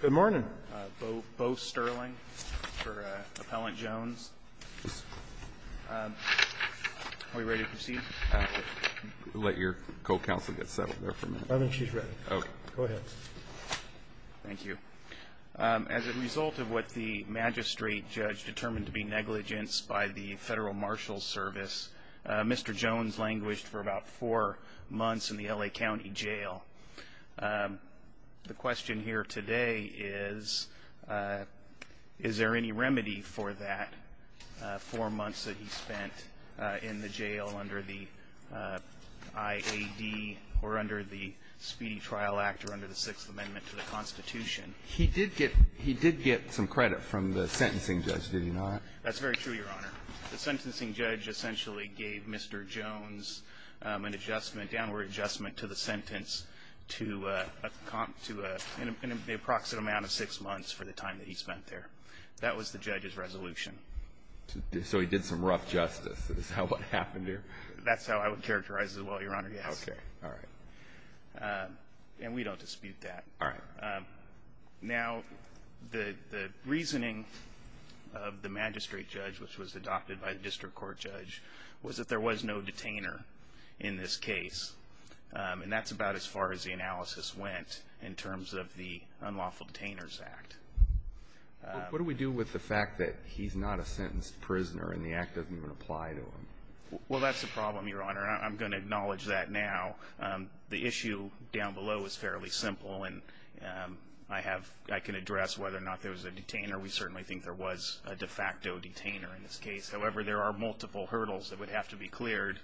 Good morning. Bo Sterling for Appellant Jones. Are we ready to proceed? Let your co-counsel get settled there for a minute. I think she's ready. Go ahead. Thank you. As a result of what the magistrate judge determined to be negligence by the Federal Marshals Service, Mr. Jones languished for about four months in the L.A. County Jail. The question here today is, is there any remedy for that, four months that he spent in the jail under the IAD or under the Speedy Trial Act or under the Sixth Amendment to the Constitution? He did get some credit from the sentencing judge, did you know that? That's very true, Your Honor. The sentencing judge essentially gave Mr. Jones an adjustment, downward adjustment to the sentence to an approximate amount of six months for the time that he spent there. That was the judge's resolution. So he did some rough justice. Is that what happened there? That's how I would characterize it as well, Your Honor, yes. Okay. All right. All right. Now, the reasoning of the magistrate judge, which was adopted by the district court judge, was that there was no detainer in this case, and that's about as far as the analysis went in terms of the Unlawful Detainers Act. What do we do with the fact that he's not a sentenced prisoner and the act doesn't even apply to him? Well, that's the problem, Your Honor, and I'm going to acknowledge that now. The issue down below is fairly simple, and I can address whether or not there was a detainer. We certainly think there was a de facto detainer in this case. However, there are multiple hurdles that would have to be cleared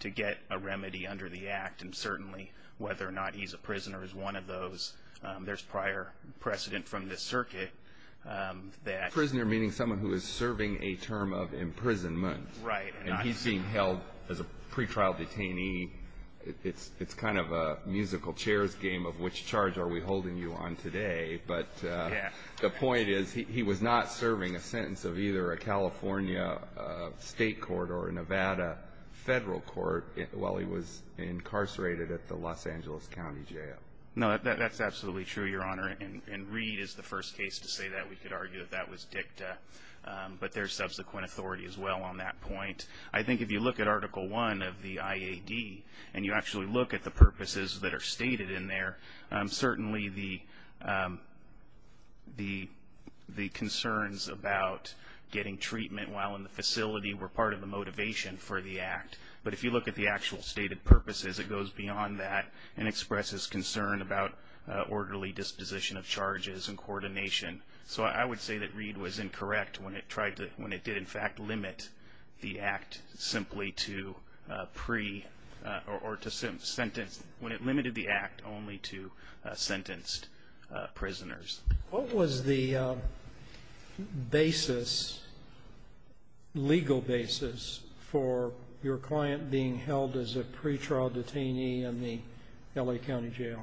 to get a remedy under the act, and certainly whether or not he's a prisoner is one of those. There's prior precedent from the circuit that… Prisoner meaning someone who is serving a term of imprisonment. Right. And he's being held as a pretrial detainee. It's kind of a musical chairs game of which charge are we holding you on today, but the point is he was not serving a sentence of either a California state court or a Nevada federal court while he was incarcerated at the Los Angeles County Jail. No, that's absolutely true, Your Honor, and Reed is the first case to say that. We could argue that that was dicta, but there's subsequent authority as well on that point. I think if you look at Article I of the IAD and you actually look at the purposes that are stated in there, certainly the concerns about getting treatment while in the facility were part of the motivation for the act, but if you look at the actual stated purposes, it goes beyond that and expresses concern about orderly disposition of charges and coordination. So I would say that Reed was incorrect when it did in fact limit the act simply to pre- or when it limited the act only to sentenced prisoners. What was the basis, legal basis, for your client being held as a pretrial detainee in the L.A. County Jail?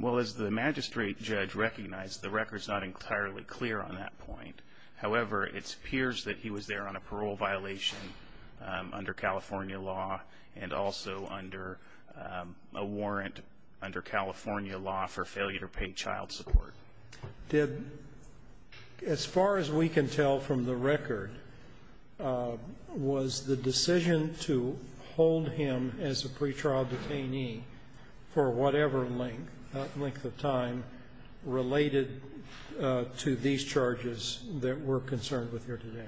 Well, as the magistrate judge recognized, the record's not entirely clear on that point. However, it appears that he was there on a parole violation under California law and also under a warrant under California law for failure to pay child support. Did, as far as we can tell from the record, was the decision to hold him as a pretrial detainee for whatever length of time related to these charges that we're concerned with here today?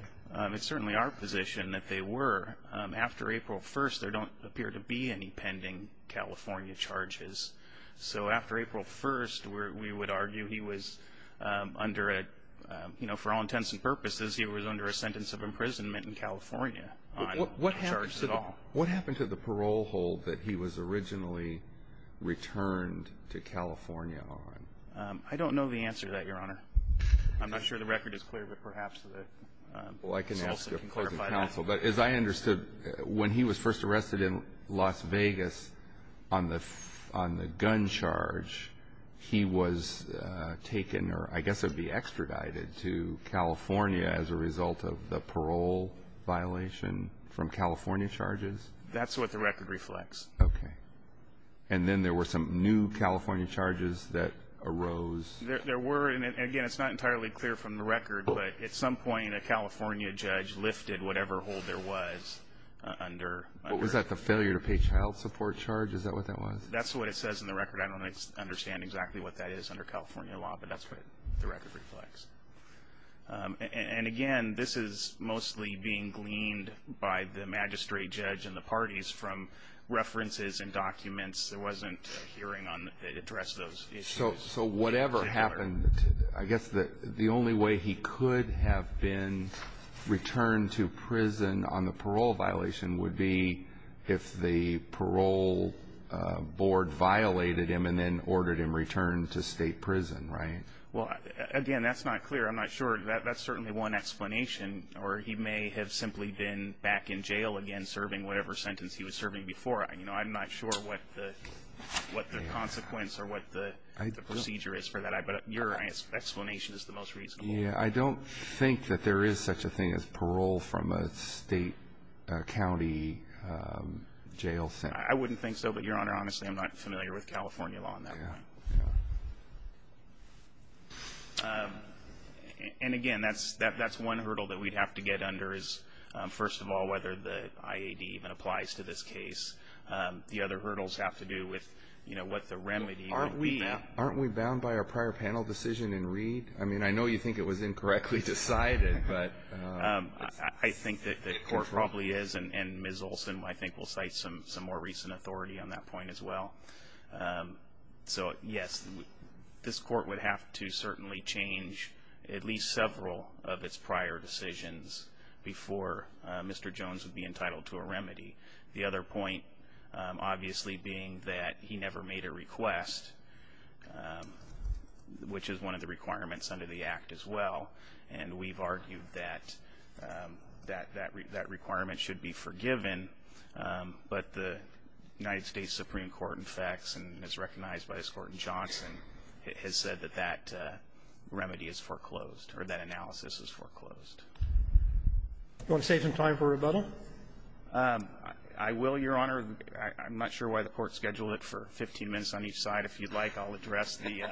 It's certainly our position that they were. After April 1st, there don't appear to be any pending California charges. So after April 1st, we would argue he was under a, you know, for all intents and purposes, he was under a sentence of imprisonment in California on charges at all. What happened to the parole hold that he was originally returned to California on? I don't know the answer to that, Your Honor. I'm not sure the record is clear, but perhaps the counsel can clarify that. But as I understood, when he was first arrested in Las Vegas on the gun charge, he was taken, or I guess it would be extradited, to California as a result of the parole violation from California charges? That's what the record reflects. Okay. And then there were some new California charges that arose? There were. And, again, it's not entirely clear from the record, but at some point a California judge lifted whatever hold there was under. Was that the failure to pay child support charge? Is that what that was? That's what it says in the record. I don't understand exactly what that is under California law, but that's what the record reflects. And, again, this is mostly being gleaned by the magistrate judge and the parties from references and documents. There wasn't a hearing to address those issues. So whatever happened, I guess the only way he could have been returned to prison on the parole violation would be if the parole board violated him and then ordered him returned to state prison, right? Well, again, that's not clear. I'm not sure. That's certainly one explanation, or he may have simply been back in jail again serving whatever sentence he was serving before. I'm not sure what the consequence or what the procedure is for that. But your explanation is the most reasonable. I don't think that there is such a thing as parole from a state county jail sentence. I wouldn't think so. But, Your Honor, honestly, I'm not familiar with California law on that one. And, again, that's one hurdle that we'd have to get under is, first of all, whether the IAD even applies to this case. The other hurdles have to do with, you know, what the remedy would be. Aren't we bound by our prior panel decision in Reed? I mean, I know you think it was incorrectly decided. I think that the court probably is. And Ms. Olson, I think, will cite some more recent authority on that point as well. So, yes, this court would have to certainly change at least several of its prior decisions before Mr. Jones would be entitled to a remedy. The other point, obviously, being that he never made a request, which is one of the requirements under the Act as well. And we've argued that that requirement should be forgiven. But the United States Supreme Court, in fact, and as recognized by this Court in Johnson, has said that that remedy is foreclosed, or that analysis is foreclosed. Do you want to save some time for rebuttal? I will, Your Honor. I'm not sure why the Court scheduled it for 15 minutes on each side. If you'd like, I'll address the ----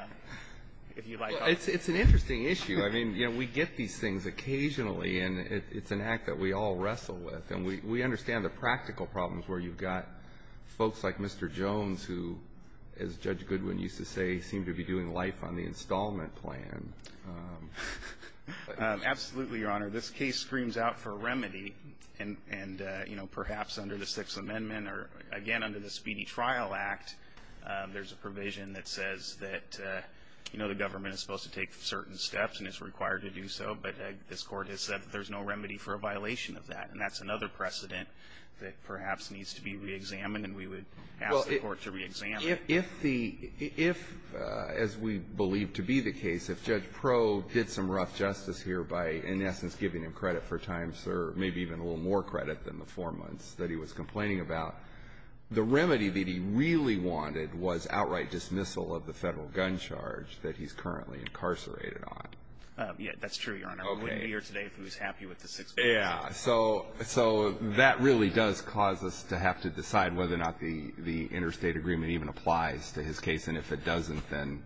if you'd like. It's an interesting issue. I mean, you know, we get these things occasionally, and it's an act that we all wrestle with, and we understand the practical problems where you've got folks like Mr. Jones, who, as Judge Goodwin used to say, seem to be doing life on the installment plan. Absolutely, Your Honor. This case screams out for a remedy, and, you know, perhaps under the Sixth Amendment or, again, under the Speedy Trial Act, there's a provision that says that, you know, the government is supposed to take certain steps and is required to do so, but this Court has said that there's no remedy for a violation of that, and that's another precedent that perhaps needs to be reexamined, and we would ask the Court to reexamine it. If the ---- if, as we believe to be the case, if Judge Proe did some rough justice here by, in essence, giving him credit for times, or maybe even a little more credit than the four months that he was complaining about, the remedy that he really wanted was outright dismissal of the Federal gun charge that he's currently incarcerated on. Yes, that's true, Your Honor. We wouldn't be here today if he was happy with the Sixth Amendment. Yeah. So that really does cause us to have to decide whether or not the interstate agreement even applies to his case, and if it doesn't, then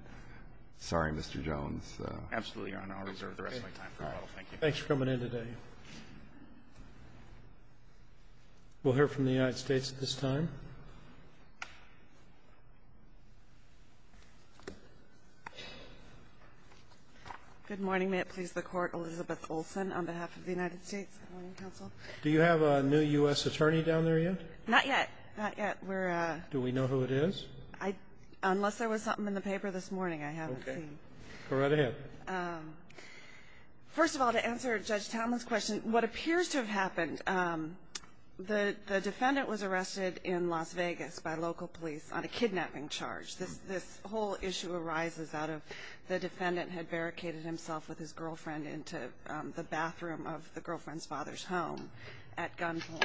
sorry, Mr. Jones. Absolutely, Your Honor. I'll reserve the rest of my time. Thank you. Thanks for coming in today. We'll hear from the United States at this time. Good morning. May it please the Court. Elizabeth Olson on behalf of the United States. Good morning, counsel. Do you have a new U.S. attorney down there yet? Not yet. Not yet. We're ---- Do we know who it is? I ---- unless there was something in the paper this morning, I haven't seen. Okay. Go right ahead. First of all, to answer Judge Tamla's question, what appears to have happened, the defendant was arrested in Las Vegas by local police on a kidnapping charge. This whole issue arises out of the defendant had barricaded himself with his girlfriend into the bathroom of the girlfriend's father's home at gunpoint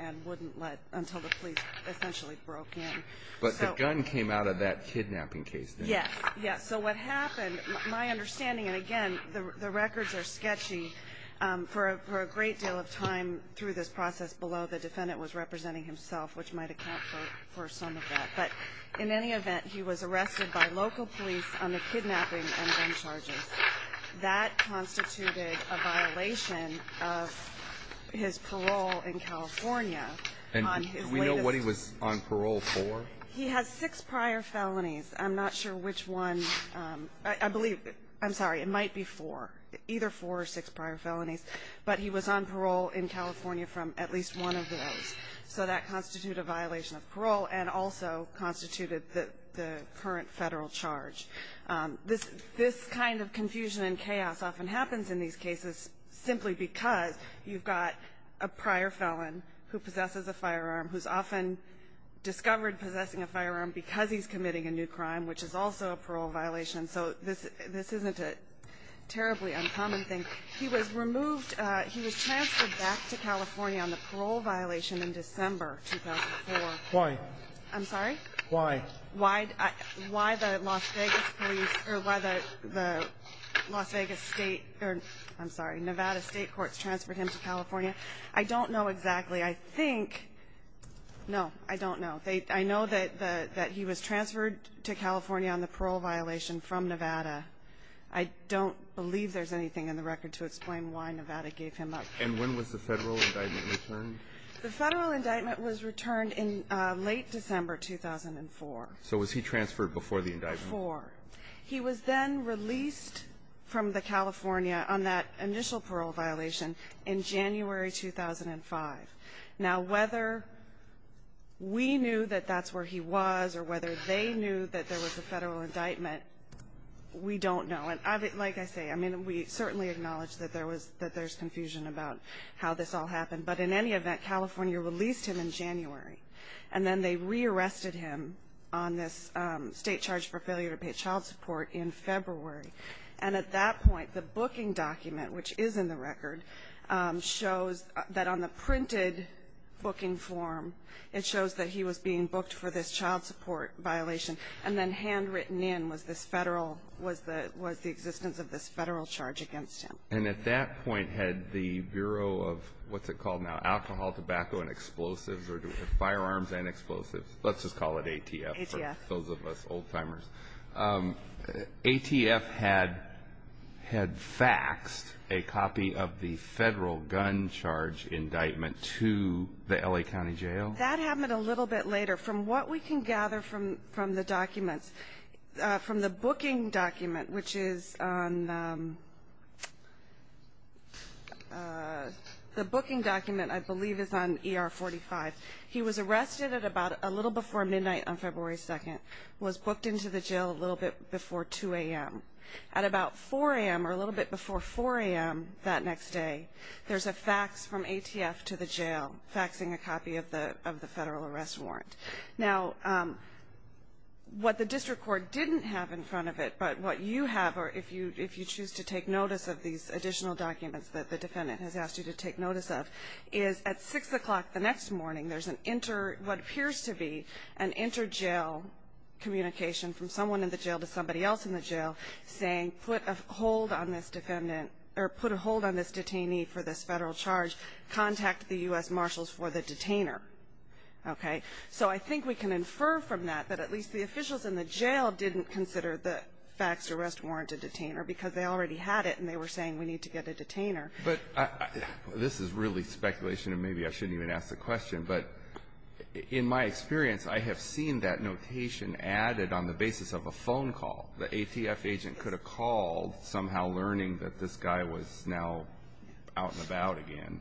and wouldn't let until the police essentially broke in. But the gun came out of that kidnapping case, didn't it? Yes. Yes. So what happened, my understanding, and again, the records are sketchy, but for a great deal of time through this process below, the defendant was representing himself, which might account for some of that. But in any event, he was arrested by local police on the kidnapping and gun charges. That constituted a violation of his parole in California on his latest ---- And do we know what he was on parole for? He has six prior felonies. I'm not sure which one. I believe ---- I'm sorry. It might be four. Either four or six prior felonies. But he was on parole in California from at least one of those. So that constituted a violation of parole and also constituted the current federal charge. This kind of confusion and chaos often happens in these cases simply because you've got a prior felon who possesses a firearm who's often discovered possessing a firearm because he's committing a new crime, which is also a parole violation. So this isn't a terribly uncommon thing. He was removed. He was transferred back to California on the parole violation in December 2004. Why? I'm sorry? Why? Why the Las Vegas police or why the Las Vegas State or, I'm sorry, Nevada State Courts transferred him to California. I don't know exactly. I think ---- No, I don't know. I know that he was transferred to California on the parole violation from Nevada. I don't believe there's anything in the record to explain why Nevada gave him up. And when was the Federal indictment returned? The Federal indictment was returned in late December 2004. So was he transferred before the indictment? Before. He was then released from the California on that initial parole violation in January 2005. Now, whether we knew that that's where he was or whether they knew that there was a Federal indictment, we don't know. And like I say, I mean, we certainly acknowledge that there's confusion about how this all happened. But in any event, California released him in January, and then they rearrested him on this state charge for failure to pay child support in February. And at that point, the booking document, which is in the record, shows that on the printed booking form, it shows that he was being booked for this child support violation. And then handwritten in was this Federal ---- was the existence of this Federal charge against him. And at that point, had the Bureau of, what's it called now, Alcohol, Tobacco, and Explosives? Or Firearms and Explosives. Let's just call it ATF for those of us old-timers. ATF had faxed a copy of the Federal gun charge indictment to the L.A. County Jail? That happened a little bit later. From what we can gather from the documents, from the booking document, which is on the booking document, I believe it's on ER 45, he was arrested at about a little before midnight on February 2nd, was booked into the jail a little bit before 2 a.m. At about 4 a.m. or a little bit before 4 a.m. that next day, there's a fax from ATF to the jail, faxing a copy of the Federal arrest warrant. Now, what the district court didn't have in front of it, but what you have, or if you choose to take notice of these additional documents that the defendant has asked you to take notice of, is at 6 o'clock the next morning, there's an inter what appears to be an inter-jail communication from someone in the jail to somebody else in the jail saying put a hold on this defendant or put a hold on this detainee for this Federal charge. Contact the U.S. Marshals for the detainer. Okay? So I think we can infer from that that at least the officials in the jail didn't consider the faxed arrest warrant a detainer because they already had it and they were saying we need to get a detainer. But this is really speculation, and maybe I shouldn't even ask the question, but in my experience, I have seen that notation added on the basis of a phone call. The ATF agent could have called, somehow learning that this guy was now out and about again,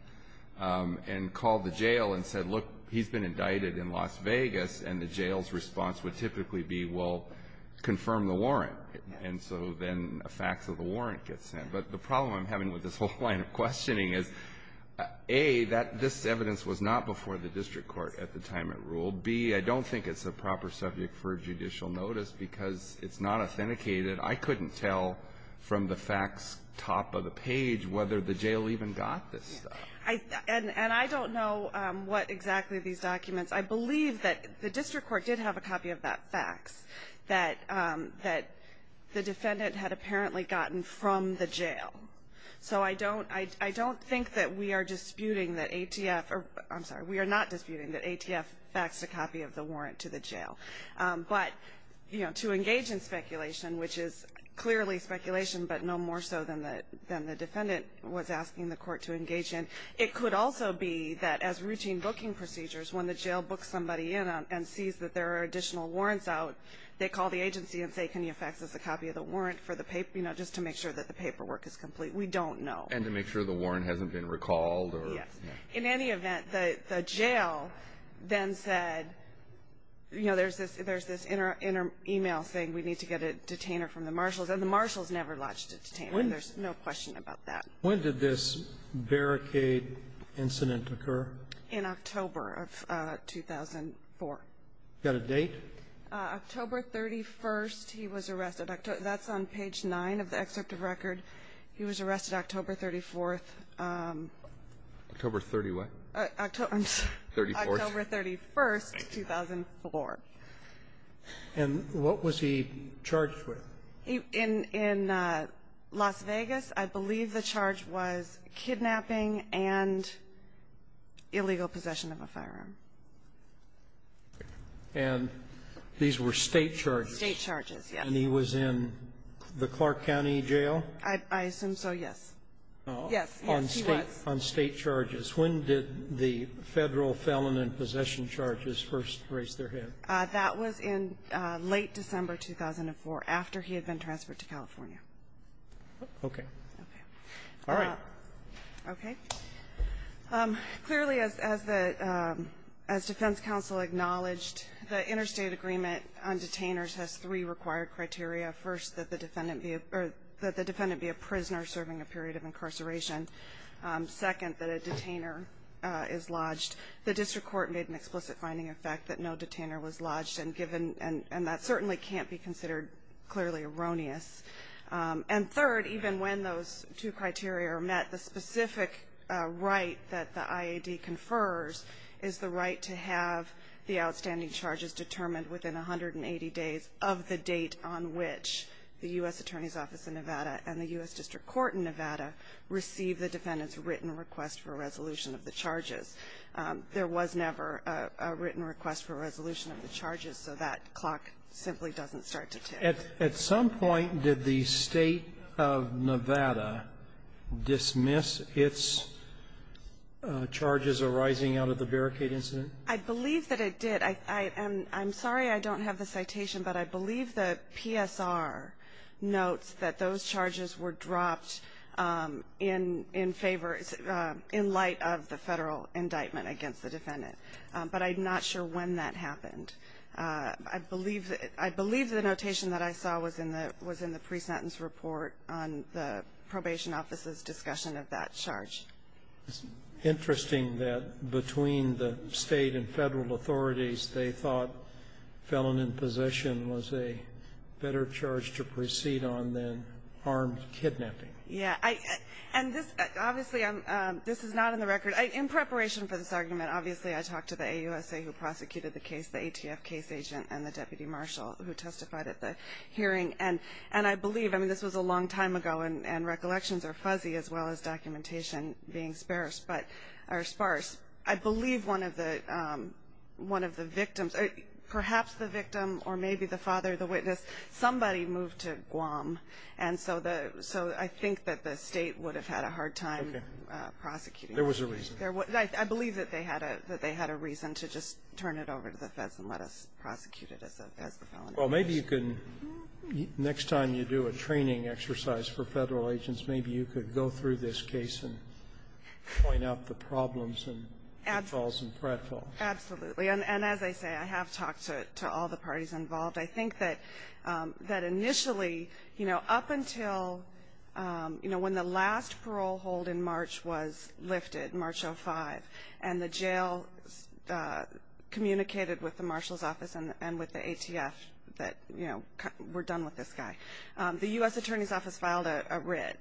and called the jail and said, look, he's been indicted in Las Vegas, and the jail's response would typically be, well, confirm the warrant. And so then a fax of the warrant gets sent. But the problem I'm having with this whole line of questioning is, A, that this evidence was not before the district court at the time it ruled. B, I don't think it's a proper subject for judicial notice because it's not authenticated. I couldn't tell from the fax top of the page whether the jail even got this stuff. And I don't know what exactly these documents. I believe that the district court did have a copy of that fax that the defendant had apparently gotten from the jail. So I don't think that we are disputing that ATF or I'm sorry, we are not disputing that ATF faxed a copy of the warrant to the jail. But, you know, to engage in speculation, which is clearly speculation, but no more so than the defendant was asking the court to engage in, it could also be that as routine booking procedures, when the jail books somebody in and sees that there are additional warrants out, they call the agency and say, can you fax us a copy of the warrant just to make sure that the paperwork is complete? We don't know. And to make sure the warrant hasn't been recalled. Yes. In any event, the jail then said, you know, there's this inner email saying we need to get a detainer from the marshals, and the marshals never lodged a detainer. There's no question about that. When did this barricade incident occur? In October of 2004. You got a date? October 31st, he was arrested. That's on page 9 of the excerpt of record. He was arrested October 34th. October 30 what? October 31st, 2004. And what was he charged with? In Las Vegas, I believe the charge was kidnapping and illegal possession of a firearm. And these were State charges. State charges, yes. And he was in the Clark County Jail? I assume so, yes. Yes. Yes, he was. On State charges. When did the Federal felon and possession charges first raise their head? That was in late December 2004, after he had been transferred to California. Okay. Okay. All right. Okay. Clearly, as defense counsel acknowledged, the interstate agreement on detainers has three required criteria. First, that the defendant be a prisoner serving a period of incarceration. Second, that a detainer is lodged. The district court made an explicit finding of fact that no detainer was lodged, and that certainly can't be considered clearly erroneous. And third, even when those two criteria are met, the specific right that the IAD confers is the right to have the outstanding charges determined within 180 days of the date on which the U.S. Attorney's Office in Nevada and the U.S. District Court in Nevada receive the defendant's written request for resolution of the charges. There was never a written request for resolution of the charges, so that clock simply doesn't start to tick. At some point, did the State of Nevada dismiss its charges arising out of the barricade incident? I believe that it did. I'm sorry I don't have the citation, but I believe the PSR notes that those charges were dropped in favor, in light of the federal indictment against the defendant. But I'm not sure when that happened. I believe the notation that I saw was in the pre-sentence report on the probation office's discussion of that charge. It's interesting that between the State and federal authorities, they thought felon in possession was a better charge to proceed on than armed kidnapping. Yeah. And this, obviously, this is not in the record. In preparation for this argument, obviously, I talked to the AUSA who prosecuted the ATF case agent and the deputy marshal who testified at the hearing. And I believe, I mean, this was a long time ago, and recollections are fuzzy as well as documentation being sparse. I believe one of the victims, perhaps the victim or maybe the father, the witness, somebody moved to Guam. And so I think that the State would have had a hard time prosecuting that. There was a reason. I believe that they had a reason to just turn it over to the feds and let us prosecute it as the felon. Well, maybe you can, next time you do a training exercise for federal agents, maybe you could go through this case and point out the problems and pitfalls and pratfalls. Absolutely. And as I say, I have talked to all the parties involved. I think that initially, you know, up until, you know, when the last parole hold in March was lifted, March 05, and the jail communicated with the marshal's office and with the ATF that, you know, we're done with this guy. The U.S. Attorney's Office filed a writ,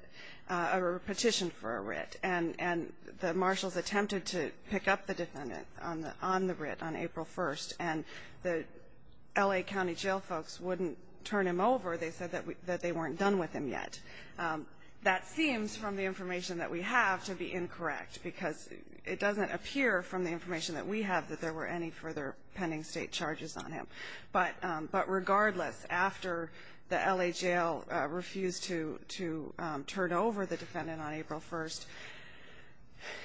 a petition for a writ, and the marshals attempted to pick up the defendant on the writ on April 1st, and the L.A. County jail folks wouldn't turn him over. They said that they weren't done with him yet. That seems from the information that we have to be incorrect because it doesn't appear from the information that we have that there were any further pending state charges on him. But regardless, after the L.A. jail refused to turn over the defendant on April 1st,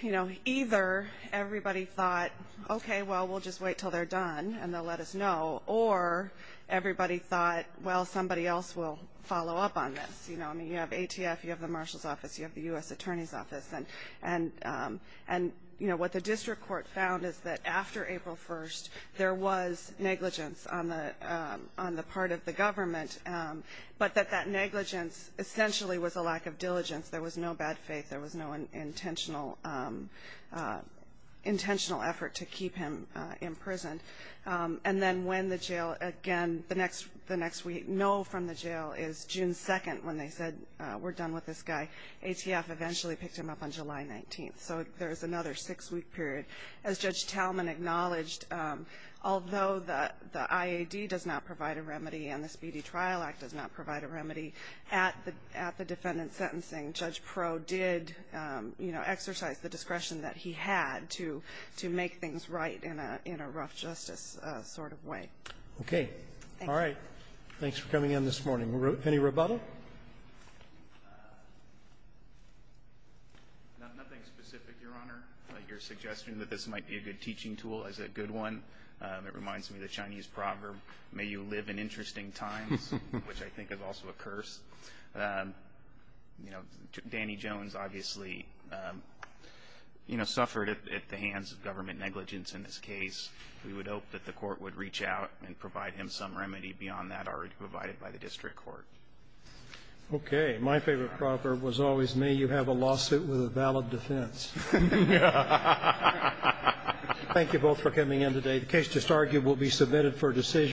you know, either everybody thought, okay, well, we'll just wait until they're done and they'll let us know, or everybody thought, well, somebody else will follow up on this. You know, I mean, you have ATF, you have the marshal's office, you have the U.S. Attorney's Office. And, you know, what the district court found is that after April 1st, there was negligence on the part of the government, but that that negligence essentially was a lack of diligence. There was no bad faith. There was no intentional effort to keep him in prison. And then when the jail, again, the next week, no from the jail is June 2nd when they said we're done with this guy. ATF eventually picked him up on July 19th. So there's another six-week period. As Judge Talman acknowledged, although the IAD does not provide a remedy and the Speedy Trial Act does not provide a remedy, at the defendant's sentencing, Judge Pro did, you know, exercise the discretion that he had to make things right in a rough justice sort of way. Okay. All right. Thanks for coming in this morning. Any rebuttal? Nothing specific, Your Honor. Your suggestion that this might be a good teaching tool is a good one. It reminds me of the Chinese proverb, may you live in interesting times, which I think is also a curse. You know, Danny Jones obviously, you know, suffered at the hands of government negligence in this case. We would hope that the court would reach out and provide him some remedy beyond that already provided by the district court. Okay. My favorite proverb was always, may you have a lawsuit with a valid defense. Thank you both for coming in today. The case just argued will be submitted for decision.